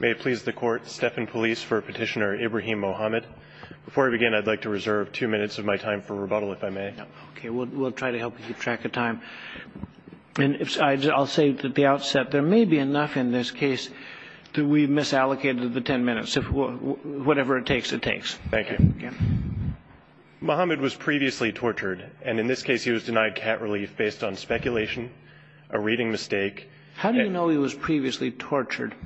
May it please the court, Stephan Police for Petitioner Ibrahim Mohamed. Before I begin, I'd like to reserve two minutes of my time for rebuttal, if I may. Okay, we'll try to help you keep track of time. And I'll say at the outset, there may be enough in this case that we misallocated the ten minutes. Whatever it takes, it takes. Thank you. Mohamed was previously tortured. And in this case, he was denied cat relief based on speculation, a reading mistake. How do you know he was previously tortured?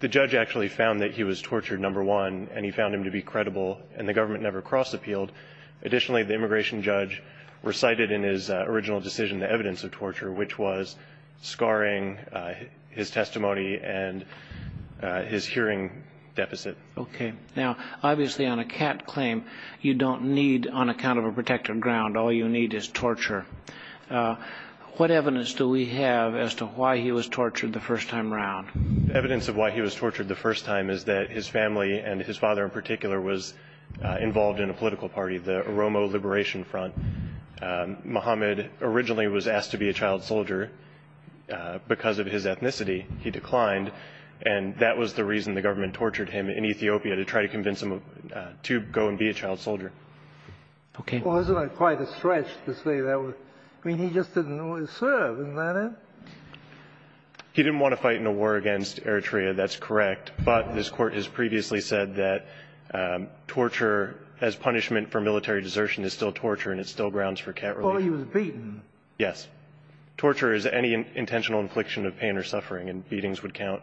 The judge actually found that he was tortured, number one, and he found him to be credible. And the government never cross-appealed. Additionally, the immigration judge recited in his original decision the evidence of torture, which was scarring his testimony and his hearing deficit. Okay. Now, obviously, on a cat claim, you don't need, on account of a protected ground, all you need is torture. What evidence do we have as to why he was tortured the first time around? Evidence of why he was tortured the first time is that his family and his father in particular was involved in a political party, the Oromo Liberation Front. Mohamed originally was asked to be a child soldier because of his ethnicity. He declined, and that was the reason the government tortured him in Ethiopia, to try to convince him to go and be a child soldier. Okay. Well, isn't that quite a stretch to say that? I mean, he just didn't know how to serve. Isn't that it? He didn't want to fight in a war against Eritrea. That's correct. But this Court has previously said that torture as punishment for military desertion is still torture, and it's still grounds for cat relief. Oh, he was beaten. Yes. Torture is any intentional infliction of pain or suffering, and beatings would count.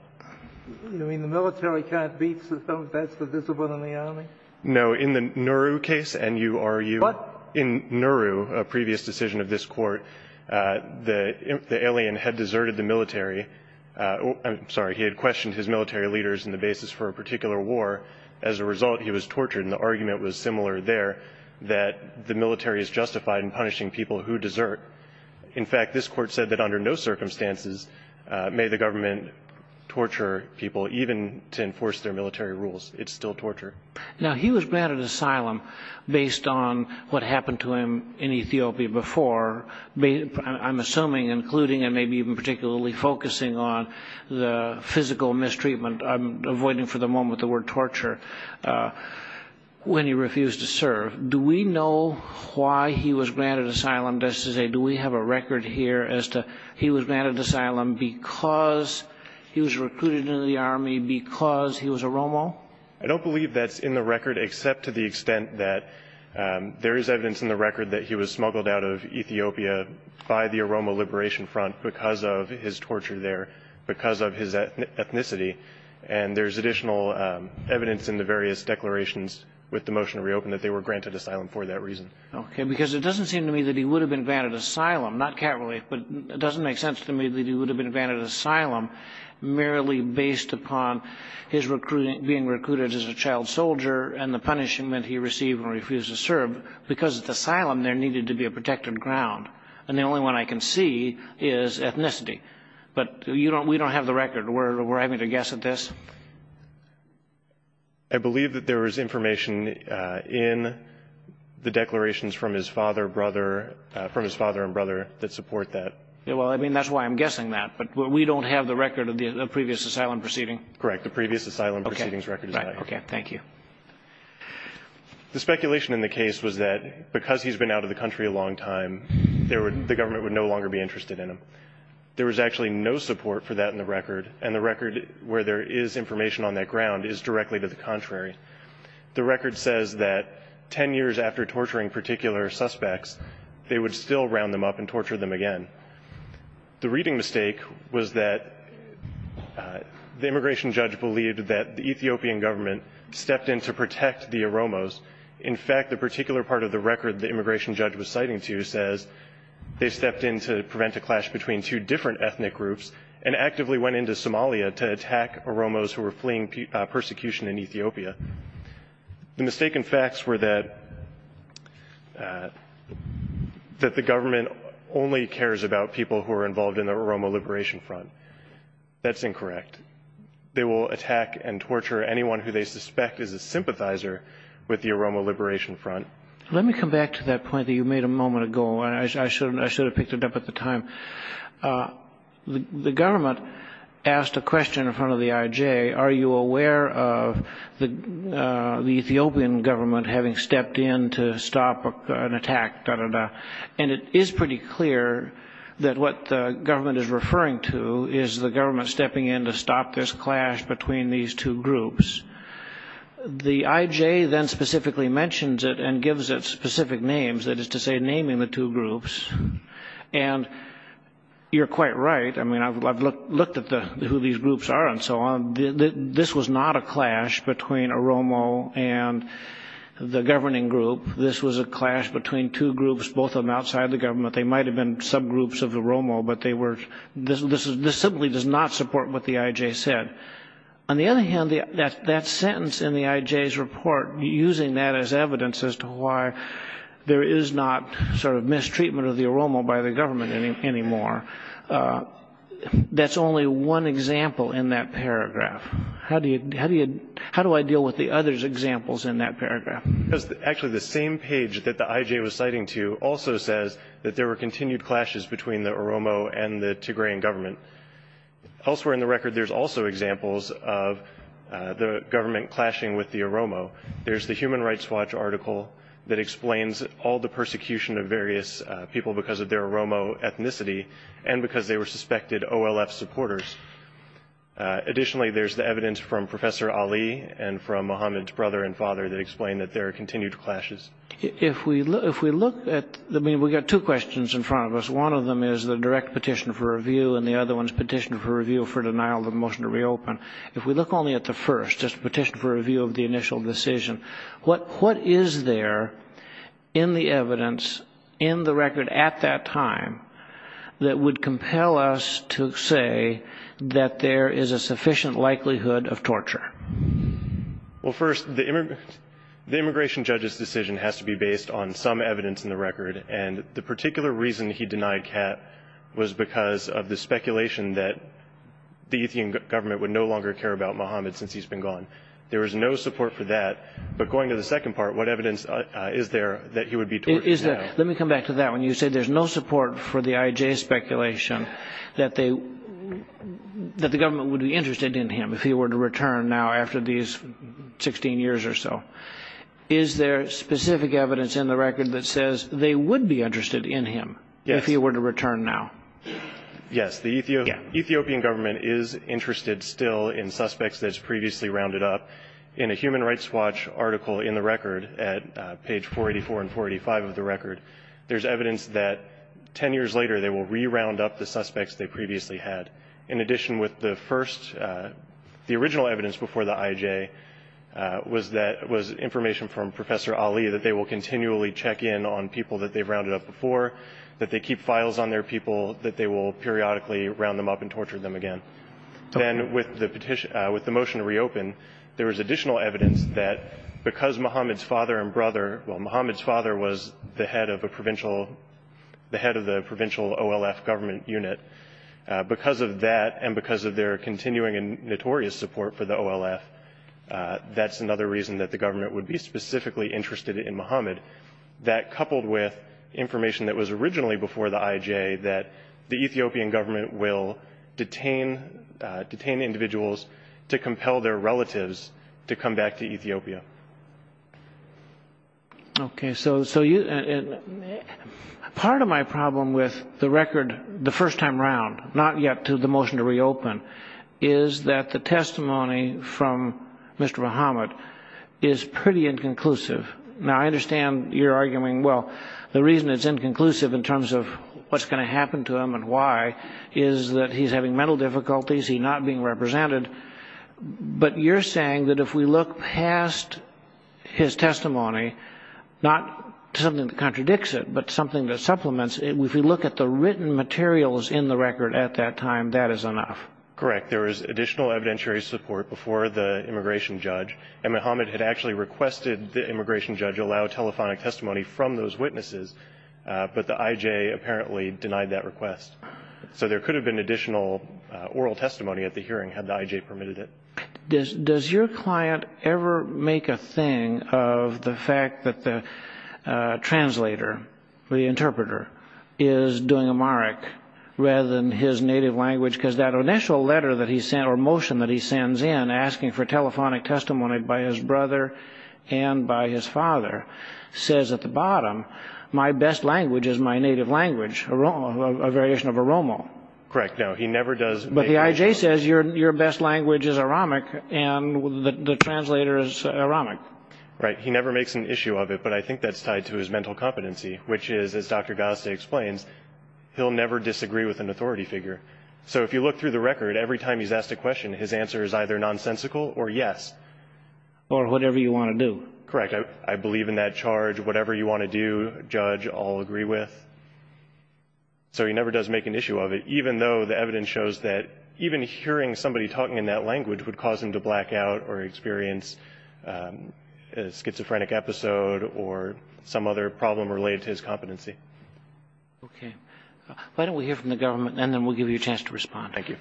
You mean the military can't beat someone if that's the discipline in the Army? No, in the Nuru case, N-U-R-U. What? In Nuru, a previous decision of this Court, the alien had deserted the military. I'm sorry. He had questioned his military leaders in the basis for a particular war. As a result, he was tortured, and the argument was similar there, that the military is justified in punishing people who desert. In fact, this Court said that under no circumstances may the government torture people, even to enforce their military rules. It's still torture. Now, he was granted asylum based on what happened to him in Ethiopia before, I'm assuming including and maybe even particularly focusing on the physical mistreatment, I'm avoiding for the moment the word torture, when he refused to serve. Do we know why he was granted asylum, just to say, do we have a record here as to he was granted asylum because he was recruited into the Army, because he was a Romo? I don't believe that's in the record except to the extent that there is evidence in the record that he was smuggled out of Ethiopia by the Aroma Liberation Front because of his torture there, because of his ethnicity. And there's additional evidence in the various declarations with the motion to reopen that they were granted asylum for that reason. Okay. Because it doesn't seem to me that he would have been granted asylum, not cavalry, but it doesn't make sense to me that he would have been granted asylum merely based upon his being recruited as a child soldier and the punishment he received when he refused to serve, because at the asylum there needed to be a protected ground. And the only one I can see is ethnicity. But we don't have the record. We're having to guess at this. I believe that there was information in the declarations from his father and brother that support that. Well, I mean, that's why I'm guessing that. But we don't have the record of the previous asylum proceeding. Correct. The previous asylum proceeding's record is out. Okay. Thank you. The speculation in the case was that because he's been out of the country a long time, the government would no longer be interested in him. There was actually no support for that in the record, and the record where there is information on that ground is directly to the contrary. The record says that 10 years after torturing particular suspects, they would still round them up and torture them again. The reading mistake was that the immigration judge believed that the Ethiopian government stepped in to protect the Oromos. In fact, the particular part of the record the immigration judge was citing to says they stepped in to prevent a clash between two different ethnic groups and actively went into Somalia to attack Oromos who were fleeing persecution in Ethiopia. The mistaken facts were that the government only cares about people who are involved in the Oromo Liberation Front. That's incorrect. They will attack and torture anyone who they suspect is a sympathizer with the Oromo Liberation Front. Let me come back to that point that you made a moment ago, and I should have picked it up at the time. The government asked a question in front of the IJ, are you aware of the Ethiopian government having stepped in to stop an attack? And it is pretty clear that what the government is referring to is the government stepping in to stop this clash between these two groups. The IJ then specifically mentions it and gives it specific names, that is to say naming the two groups. And you're quite right. I mean, I've looked at who these groups are and so on. This was not a clash between Oromo and the governing group. This was a clash between two groups, both of them outside the government. They might have been subgroups of the Oromo, but this simply does not support what the IJ said. On the other hand, that sentence in the IJ's report, using that as evidence as to why there is not sort of mistreatment of the Oromo by the government anymore, that's only one example in that paragraph. How do I deal with the other examples in that paragraph? Actually, the same page that the IJ was citing to also says that there were continued clashes between the Oromo and the Tigrayan government. Elsewhere in the record, there's also examples of the government clashing with the Oromo. There's the Human Rights Watch article that explains all the persecution of various people because of their Oromo ethnicity and because they were suspected OLF supporters. Additionally, there's the evidence from Professor Ali and from Muhammad's brother and father that explain that there are continued clashes. If we look at, I mean, we've got two questions in front of us. One of them is the direct petition for review, and the other one is petition for review for denial of the motion to reopen. If we look only at the first, just petition for review of the initial decision, what is there in the evidence in the record at that time that would compel us to say that there is a sufficient likelihood of torture? Well, first, the immigration judge's decision has to be based on some evidence in the record, and the particular reason he denied cat was because of the speculation that the Ethiopian government would no longer care about Muhammad since he's been gone. There was no support for that. But going to the second part, what evidence is there that he would be tortured now? Let me come back to that one. You say there's no support for the IJ speculation that the government would be interested in him if he were to return now after these 16 years or so. Is there specific evidence in the record that says they would be interested in him if he were to return now? Yes. The Ethiopian government is interested still in suspects that's previously rounded up. In a Human Rights Watch article in the record at page 484 and 485 of the record, there's evidence that 10 years later they will reround up the suspects they previously had. In addition with the first, the original evidence before the IJ was information from Professor Ali that they will continually check in on people that they've rounded up before, that they keep files on their people, that they will periodically round them up and torture them again. Then with the motion to reopen, there was additional evidence that because Muhammad's father and brother, well, Muhammad's father was the head of the provincial OLF government unit. Because of that and because of their continuing and notorious support for the OLF, that's another reason that the government would be specifically interested in Muhammad. That coupled with information that was originally before the IJ, that the Ethiopian government will detain individuals to compel their relatives to come back to Ethiopia. Okay, so part of my problem with the record the first time around, not yet to the motion to reopen, is that the testimony from Mr. Muhammad is pretty inconclusive. Now, I understand you're arguing, well, the reason it's inconclusive in terms of what's going to happen to him and why is that he's having mental difficulties, he's not being represented. But you're saying that if we look past his testimony, not something that contradicts it, but something that supplements it, if we look at the written materials in the record at that time, that is enough. Correct. There was additional evidentiary support before the immigration judge, and Muhammad had actually requested the immigration judge allow telephonic testimony from those witnesses, but the IJ apparently denied that request. So there could have been additional oral testimony at the hearing had the IJ permitted it. Does your client ever make a thing of the fact that the translator, the interpreter, is doing Amharic rather than his native language? Because that initial letter that he sent, or motion that he sends in, asking for telephonic testimony by his brother and by his father, says at the bottom, my best language is my native language, a variation of Oromo. Correct. No, he never does. But the IJ says your best language is Aramic and the translator is Aramic. Right. He never makes an issue of it, but I think that's tied to his mental competency, which is, as Dr. Ghazdeh explains, he'll never disagree with an authority figure. So if you look through the record, every time he's asked a question, his answer is either nonsensical or yes. Or whatever you want to do. Correct. I believe in that charge. Whatever you want to do, judge, I'll agree with. So he never does make an issue of it, even though the evidence shows that even hearing somebody talking in that language would cause him to black out or experience a schizophrenic episode or some other problem related to his competency. Okay. Why don't we hear from the government, and then we'll give you a chance to respond. Thank you.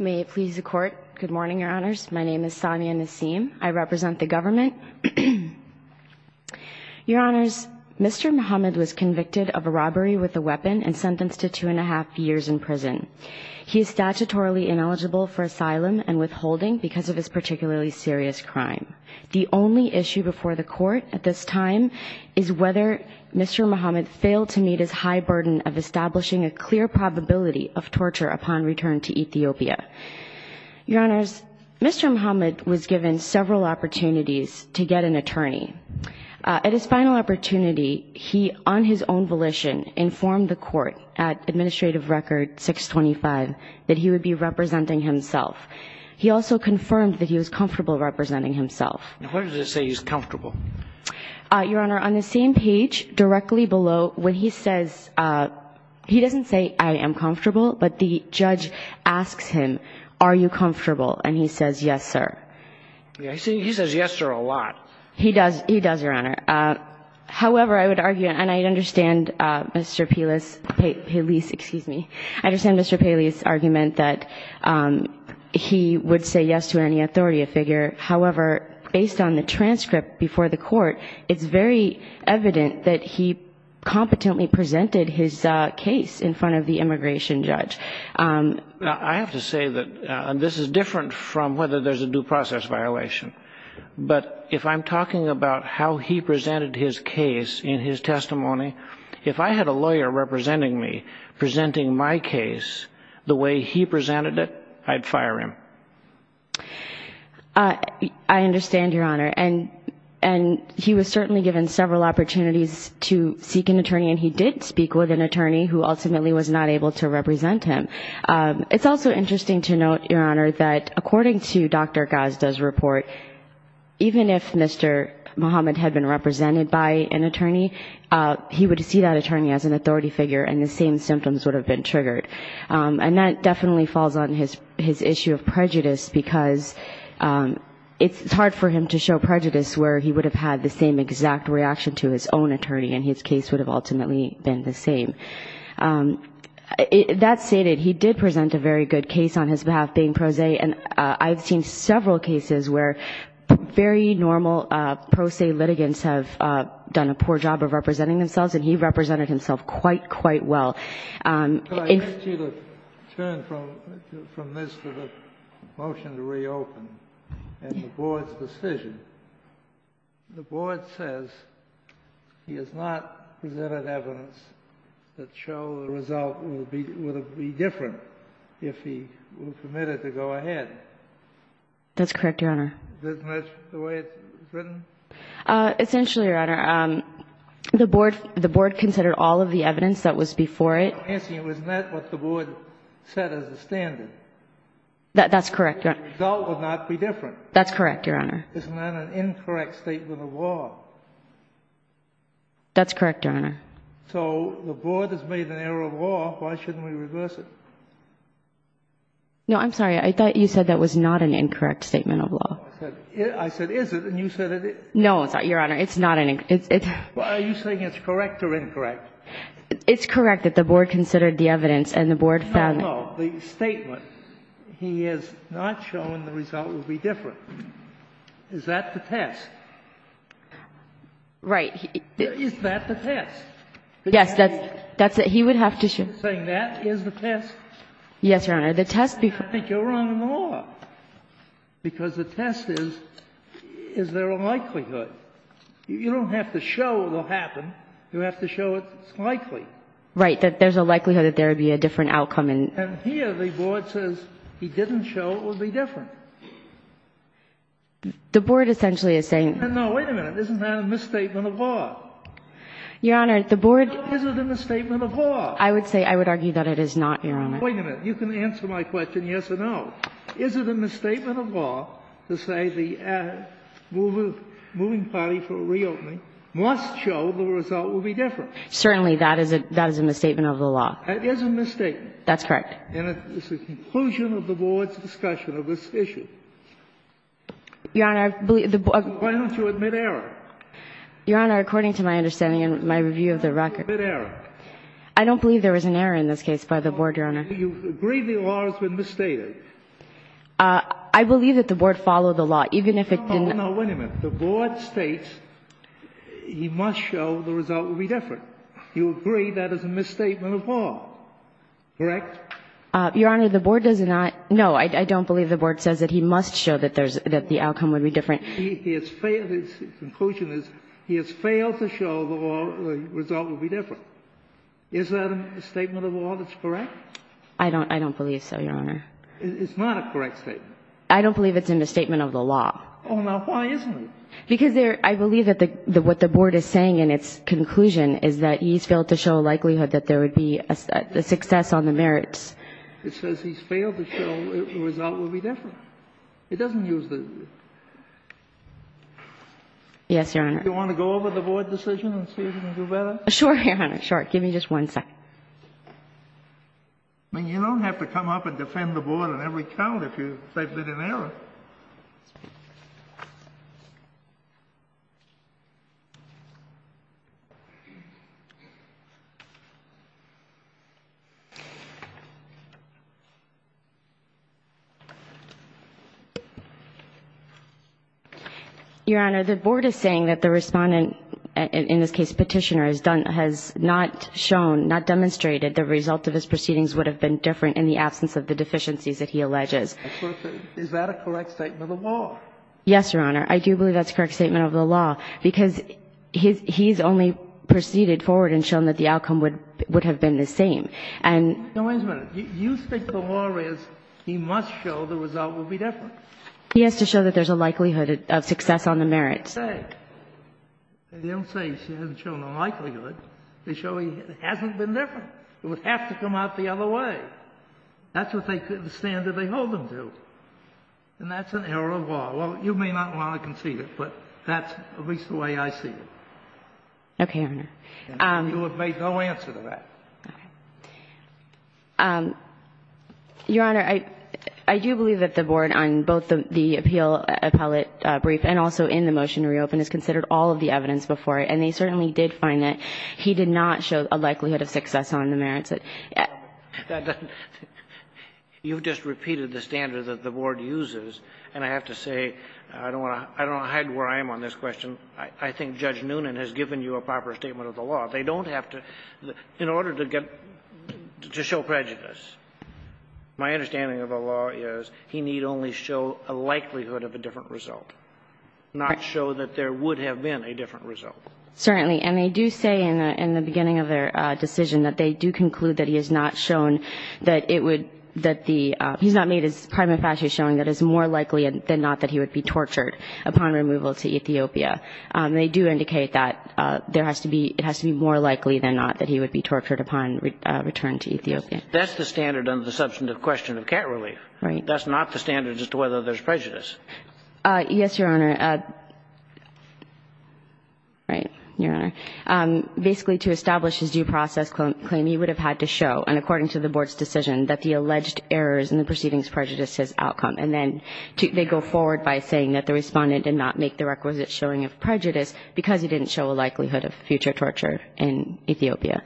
May it please the Court. Good morning, Your Honors. My name is Samia Nassim. I represent the government. Your Honors, Mr. Muhammad was convicted of a robbery with a weapon and sentenced to two and a half years in prison. He is statutorily ineligible for asylum and withholding because of his particularly serious crime. The only issue before the Court at this time is whether Mr. Muhammad failed to meet his high burden of establishing a clear probability of torture upon return to Ethiopia. Your Honors, Mr. Muhammad was given several opportunities to get an attorney. At his final opportunity, he, on his own volition, informed the Court at Administrative Record 625 that he would be representing himself. He also confirmed that he was comfortable representing himself. What does it say he's comfortable? Your Honor, on the same page, directly below, when he says he doesn't say I am comfortable, but the judge asks him, are you comfortable? And he says, yes, sir. He says yes, sir, a lot. He does. He does, Your Honor. However, I would argue, and I understand Mr. Pelis, Pelis, excuse me. I understand Mr. Pelis' argument that he would say yes to any authority figure. However, based on the transcript before the Court, it's very evident that he competently presented his case in front of the immigration judge. I have to say that this is different from whether there's a due process violation. But if I'm talking about how he presented his case in his testimony, if I had a lawyer representing me, presenting my case the way he presented it, I'd fire him. I understand, Your Honor. And he was certainly given several opportunities to seek an attorney, and he did speak with an attorney who ultimately was not able to represent him. It's also interesting to note, Your Honor, that according to Dr. Gazda's report, even if Mr. Muhammad had been represented by an attorney, he would see that attorney as an authority figure and the same symptoms would have been triggered. And that definitely falls on his issue of prejudice because it's hard for him to show prejudice where he would have had the same exact reaction to his own attorney and his case would have ultimately been the same. That stated, he did present a very good case on his behalf, being pro se, and I've seen several cases where very normal pro se litigants have done a poor job of representing themselves, and he represented himself quite, quite well. If you could turn from this to the motion to reopen and the board's decision. The board says he has not presented evidence that shows the result would have been different if he were permitted to go ahead. That's correct, Your Honor. Isn't that the way it's written? Essentially, Your Honor, the board considered all of the evidence that was before it. I'm asking, wasn't that what the board set as the standard? That's correct, Your Honor. The result would not be different. That's correct, Your Honor. Isn't that an incorrect statement of law? That's correct, Your Honor. So the board has made an error of law. Why shouldn't we reverse it? No, I'm sorry. I thought you said that was not an incorrect statement of law. I said is it, and you said it is. No, Your Honor. It's not an incorrect. Are you saying it's correct or incorrect? It's correct that the board considered the evidence and the board found that. No, no. The statement, he has not shown the result would be different. Is that the test? Right. Is that the test? Yes, that's it. He would have to show. You're saying that is the test? Yes, Your Honor. The test before. I think you're wrong in the law, because the test is, is there a likelihood? You don't have to show it will happen. You have to show it's likely. Right. That there's a likelihood that there would be a different outcome. And here the board says he didn't show it would be different. The board essentially is saying. No, wait a minute. Isn't that a misstatement of law? Your Honor, the board. Is it a misstatement of law? I would say, I would argue that it is not, Your Honor. Wait a minute. You can answer my question yes or no. Is it a misstatement of law to say the moving party for reopening must show the result will be different? Certainly, that is a misstatement of the law. It is a misstatement. That's correct. And it's a conclusion of the board's discussion of this issue. Your Honor, I believe the board. Why don't you admit error? Your Honor, according to my understanding and my review of the record. Admit error. I don't believe there was an error in this case by the board, Your Honor. You agree the law has been misstated. I believe that the board followed the law. Even if it didn't. No, wait a minute. The board states he must show the result will be different. You agree that is a misstatement of law. Correct? Your Honor, the board does not. No, I don't believe the board says that he must show that the outcome would be different. His conclusion is he has failed to show the law the result will be different. Is that a statement of law that's correct? I don't believe so, Your Honor. It's not a correct statement. I don't believe it's in the statement of the law. Oh, now, why isn't it? Because I believe that what the board is saying in its conclusion is that he's failed to show a likelihood that there would be a success on the merits. It says he's failed to show the result will be different. It doesn't use the... Yes, Your Honor. Do you want to go over the board decision and see if you can do better? Sure, Your Honor. Sure. Give me just one second. I mean, you don't have to come up and defend the board on every count if they've been in error. Your Honor, the board is saying that the Respondent, in this case Petitioner, has not shown, not demonstrated the result of his proceedings would have been different in the absence of the deficiencies that he alleges. Is that a correct statement of the law? Yes, Your Honor. I do believe that's a correct statement of the law, because he's only proceeded forward and shown that the outcome would have been the same. Now, wait a minute. You think the law is he must show the result will be different? He has to show that there's a likelihood of success on the merits. Okay. They don't say he hasn't shown a likelihood. They show he hasn't been different. It would have to come out the other way. That's the standard they hold him to. And that's an error of law. Well, you may not want to concede it, but that's at least the way I see it. Okay, Your Honor. You have made no answer to that. Your Honor, I do believe that the board on both the appeal appellate brief and also in the motion to reopen has considered all of the evidence before it, and they certainly did find that he did not show a likelihood of success on the merits. You've just repeated the standard that the board uses, and I have to say I don't want to hide where I am on this question. I think Judge Noonan has given you a proper statement of the law. They don't have to – in order to get – to show prejudice, my understanding of the law is he need only show a likelihood of a different result, not show that there would have been a different result. Certainly. And they do say in the beginning of their decision that they do conclude that he has not shown that it would – that the – he's not made his primary facet showing that it's more likely than not that he would be tortured upon removal to Ethiopia. They do indicate that there has to be – it has to be more likely than not that he would be tortured upon return to Ethiopia. That's the standard under the substantive question of cat relief. Right. That's not the standard as to whether there's prejudice. Yes, Your Honor. Right. Your Honor. Basically, to establish his due process claim, he would have had to show, and according to the board's decision, that the alleged errors in the proceedings prejudice his outcome. And then they go forward by saying that the respondent did not make the requisite showing of prejudice because he didn't show a likelihood of future torture in Ethiopia.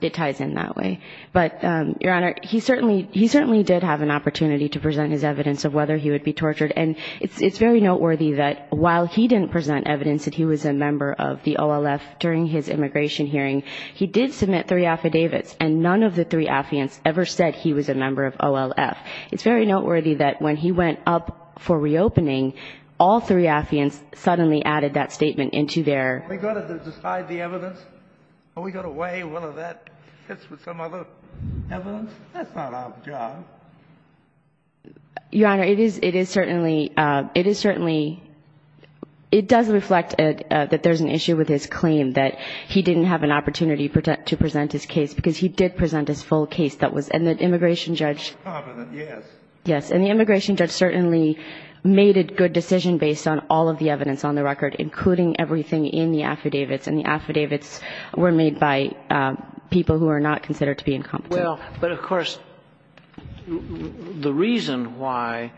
It ties in that way. But, Your Honor, he certainly – he certainly did have an opportunity to present his evidence of whether he would be tortured, and it's very noteworthy that while he didn't present evidence that he was a member of the OLF during his immigration hearing, he did submit three affidavits, and none of the three affiants ever said he was a member of OLF. It's very noteworthy that when he went up for reopening, all three affiants suddenly added that statement into their – Are we going to decide the evidence? Are we going to weigh whether that fits with some other evidence? That's not our job. Your Honor, it is – it is certainly – it is certainly – it does reflect that there's an issue with his claim that he didn't have an opportunity to present his case because he did present his full case that was – and the immigration judge – Incompetent, yes. Yes. And the immigration judge certainly made a good decision based on all of the evidence on the record, including everything in the affidavits, and the affidavits were made by people who are not considered to be incompetent. Well, but, of course, the reason why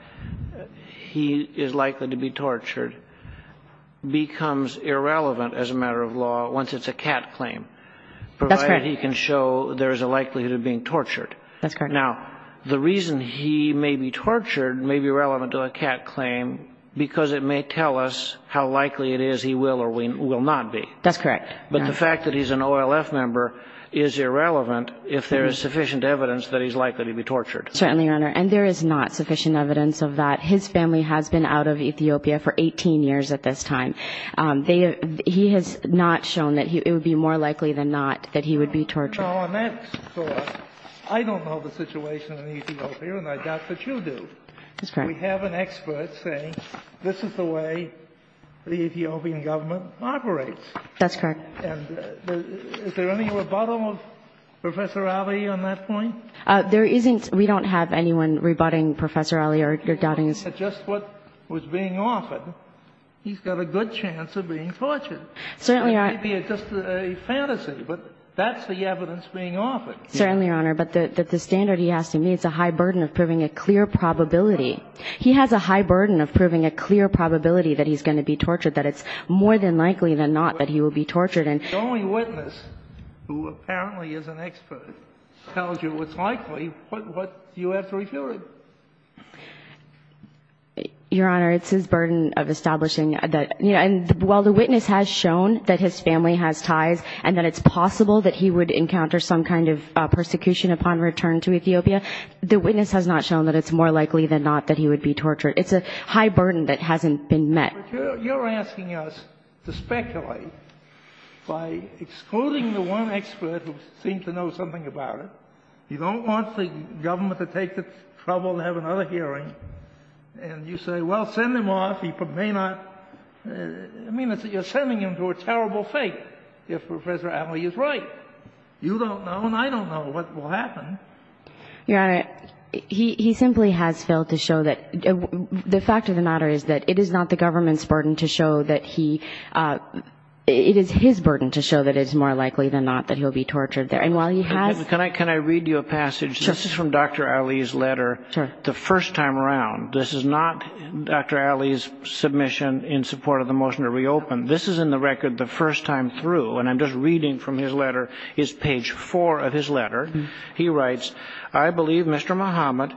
he is likely to be tortured becomes irrelevant as a matter of law once it's a cat claim. That's correct. Provided he can show there is a likelihood of being tortured. That's correct. Now, the reason he may be tortured may be relevant to a cat claim because it may tell us how likely it is he will or will not be. That's correct. But the fact that he's an OLF member is irrelevant if there is sufficient evidence that he's likely to be tortured. Certainly, Your Honor. And there is not sufficient evidence of that. His family has been out of Ethiopia for 18 years at this time. They – he has not shown that he – it would be more likely than not that he would be tortured. Now, on that thought, I don't know the situation in Ethiopia, and I doubt that you do. That's correct. We have an expert saying this is the way the Ethiopian government operates. That's correct. And is there any rebuttal of Professor Alley on that point? There isn't. We don't have anyone rebutting Professor Alley or doubting us. Just what was being offered. He's got a good chance of being tortured. Certainly, Your Honor. It may be just a fantasy, but that's the evidence being offered. Certainly, Your Honor. But the standard he has to meet is a high burden of proving a clear probability. He has a high burden of proving a clear probability that he's going to be tortured, that it's more than likely than not that he will be tortured. If the only witness who apparently is an expert tells you it's likely, what do you have to refute it? Your Honor, it's his burden of establishing that – and while the witness has shown that his family has ties and that it's possible that he would encounter some kind of persecution upon return to Ethiopia, the witness has not shown that it's more likely than not that he would be tortured. It's a high burden that hasn't been met. But you're asking us to speculate by excluding the one expert who seems to know something about it. You don't want the government to take the trouble to have another hearing. And you say, well, send him off. He may not. I mean, you're sending him to a terrible fate if Professor Alley is right. You don't know and I don't know what will happen. Your Honor, he simply has failed to show that – the fact of the matter is that it is not the government's burden to show that he – it is his burden to show that it's more likely than not that he'll be tortured there. And while he has – Can I read you a passage? Sure. This is from Dr. Alley's letter. Sure. This is in the record the first time around. This is not Dr. Alley's submission in support of the motion to reopen. This is in the record the first time through. And I'm just reading from his letter. It's page four of his letter. He writes, I believe Mr. Muhammad,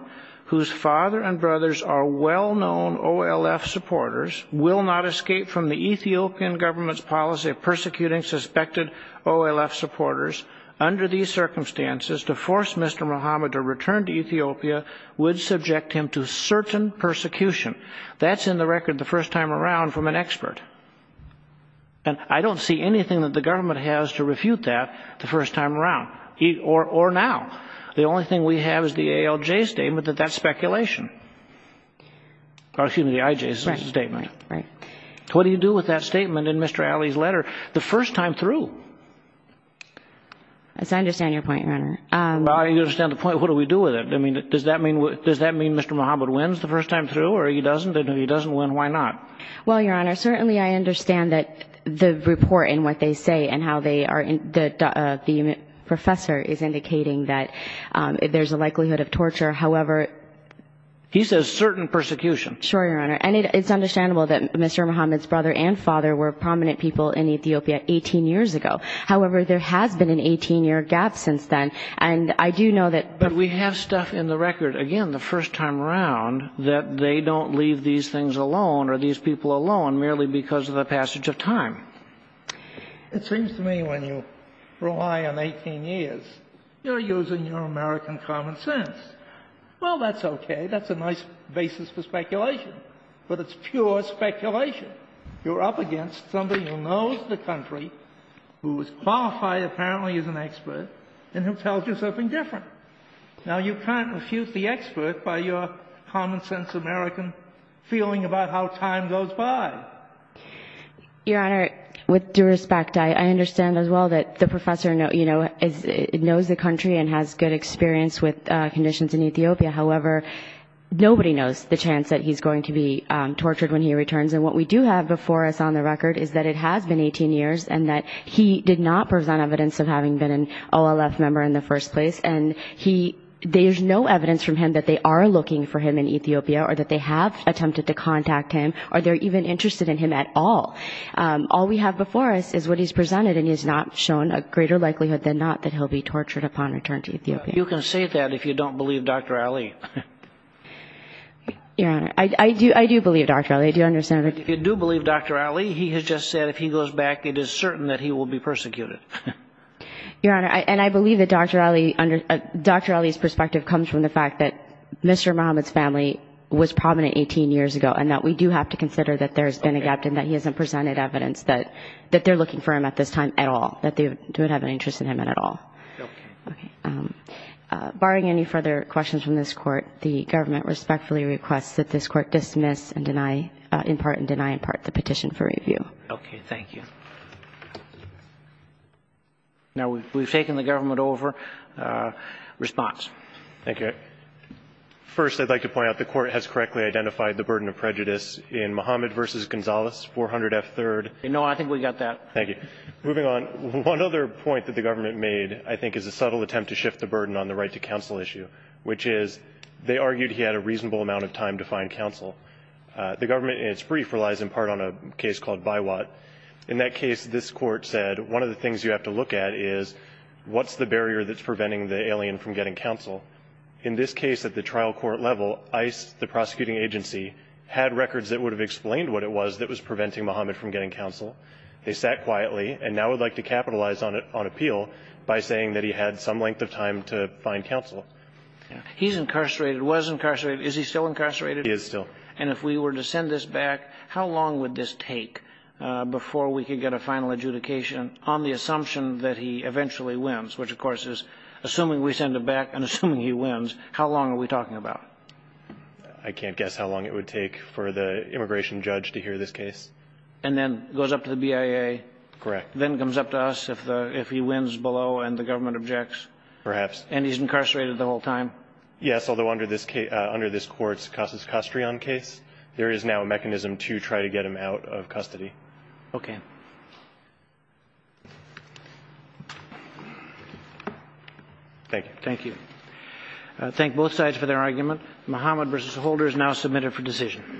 whose father and brothers are well-known OLF supporters, will not escape from the Ethiopian government's policy of persecuting suspected OLF supporters. Under these circumstances, to force Mr. Muhammad to return to Ethiopia would subject him to certain persecution. That's in the record the first time around from an expert. And I don't see anything that the government has to refute that the first time around. Or now. The only thing we have is the ALJ statement that that's speculation. Excuse me, the IJ statement. Right, right. What do you do with that statement in Mr. Alley's letter the first time through? Yes, I understand your point, Your Honor. Well, I understand the point. What do we do with it? I mean, does that mean Mr. Muhammad wins the first time through or he doesn't? If he doesn't win, why not? Well, Your Honor, certainly I understand that the report and what they say and how they are, the professor is indicating that there's a likelihood of torture. However, he says certain persecution. Sure, Your Honor. And it's understandable that Mr. Muhammad's brother and father were prominent people in Ethiopia 18 years ago. However, there has been an 18-year gap since then. And I do know that. But we have stuff in the record, again, the first time around, that they don't leave these things alone or these people alone merely because of the passage of time. It seems to me when you rely on 18 years, you're using your American common sense. Well, that's okay. That's a nice basis for speculation. But it's pure speculation. You're up against somebody who knows the country, who is qualified apparently as an expert, and who tells you something different. Now, you can't refuse the expert by your common sense American feeling about how time goes by. Your Honor, with due respect, I understand as well that the professor, you know, knows the country and has good experience with conditions in Ethiopia. However, nobody knows the chance that he's going to be tortured when he returns. And what we do have before us on the record is that it has been 18 years and that he did not present evidence of having been an OLF member in the first place. And there's no evidence from him that they are looking for him in Ethiopia or that they have attempted to contact him or they're even interested in him at all. All we have before us is what he's presented, and he has not shown a greater likelihood than not that he'll be tortured upon return to Ethiopia. You can say that if you don't believe Dr. Ali. Your Honor, I do believe Dr. Ali. Do you understand what I'm saying? If you do believe Dr. Ali, he has just said if he goes back, it is certain that he will be persecuted. Your Honor, and I believe that Dr. Ali's perspective comes from the fact that Mr. Mohammed's family was prominent 18 years ago and that we do have to consider that there's been a gap and that he hasn't presented evidence that they're looking for him at this time at all, that they don't have any interest in him at all. Okay. Okay. Barring any further questions from this Court, the government respectfully requests that this Court dismiss and deny in part and deny in part the petition for review. Okay. Thank you. Now, we've taken the government over. Response. Thank you. All right. First, I'd like to point out the Court has correctly identified the burden of prejudice in Mohammed v. Gonzalez, 400F3rd. No, I think we got that. Thank you. Moving on, one other point that the government made, I think, is a subtle attempt to shift the burden on the right-to-counsel issue, which is they argued he had a reasonable amount of time to find counsel. The government, in its brief, relies in part on a case called Biwat. In that case, this Court said one of the things you have to look at is what's the barrier that's preventing the alien from getting counsel? In this case, at the trial court level, ICE, the prosecuting agency, had records that would have explained what it was that was preventing Mohammed from getting counsel. They sat quietly and now would like to capitalize on it on appeal by saying that he had some length of time to find counsel. He's incarcerated, was incarcerated. Is he still incarcerated? He is still. And if we were to send this back, how long would this take before we could get a final adjudication on the assumption that he eventually wins, which, of course, is assuming we send it back and assuming he wins, how long are we talking about? I can't guess how long it would take for the immigration judge to hear this case. And then it goes up to the BIA? Correct. Then it comes up to us if he wins below and the government objects? Perhaps. And he's incarcerated the whole time? Yes, although under this Court's Casus Custrion case, there is now a mechanism to try to get him out of custody. Okay. Thank you. Thank you. Thank both sides for their argument. Mohammed v. Holder is now submitted for decision.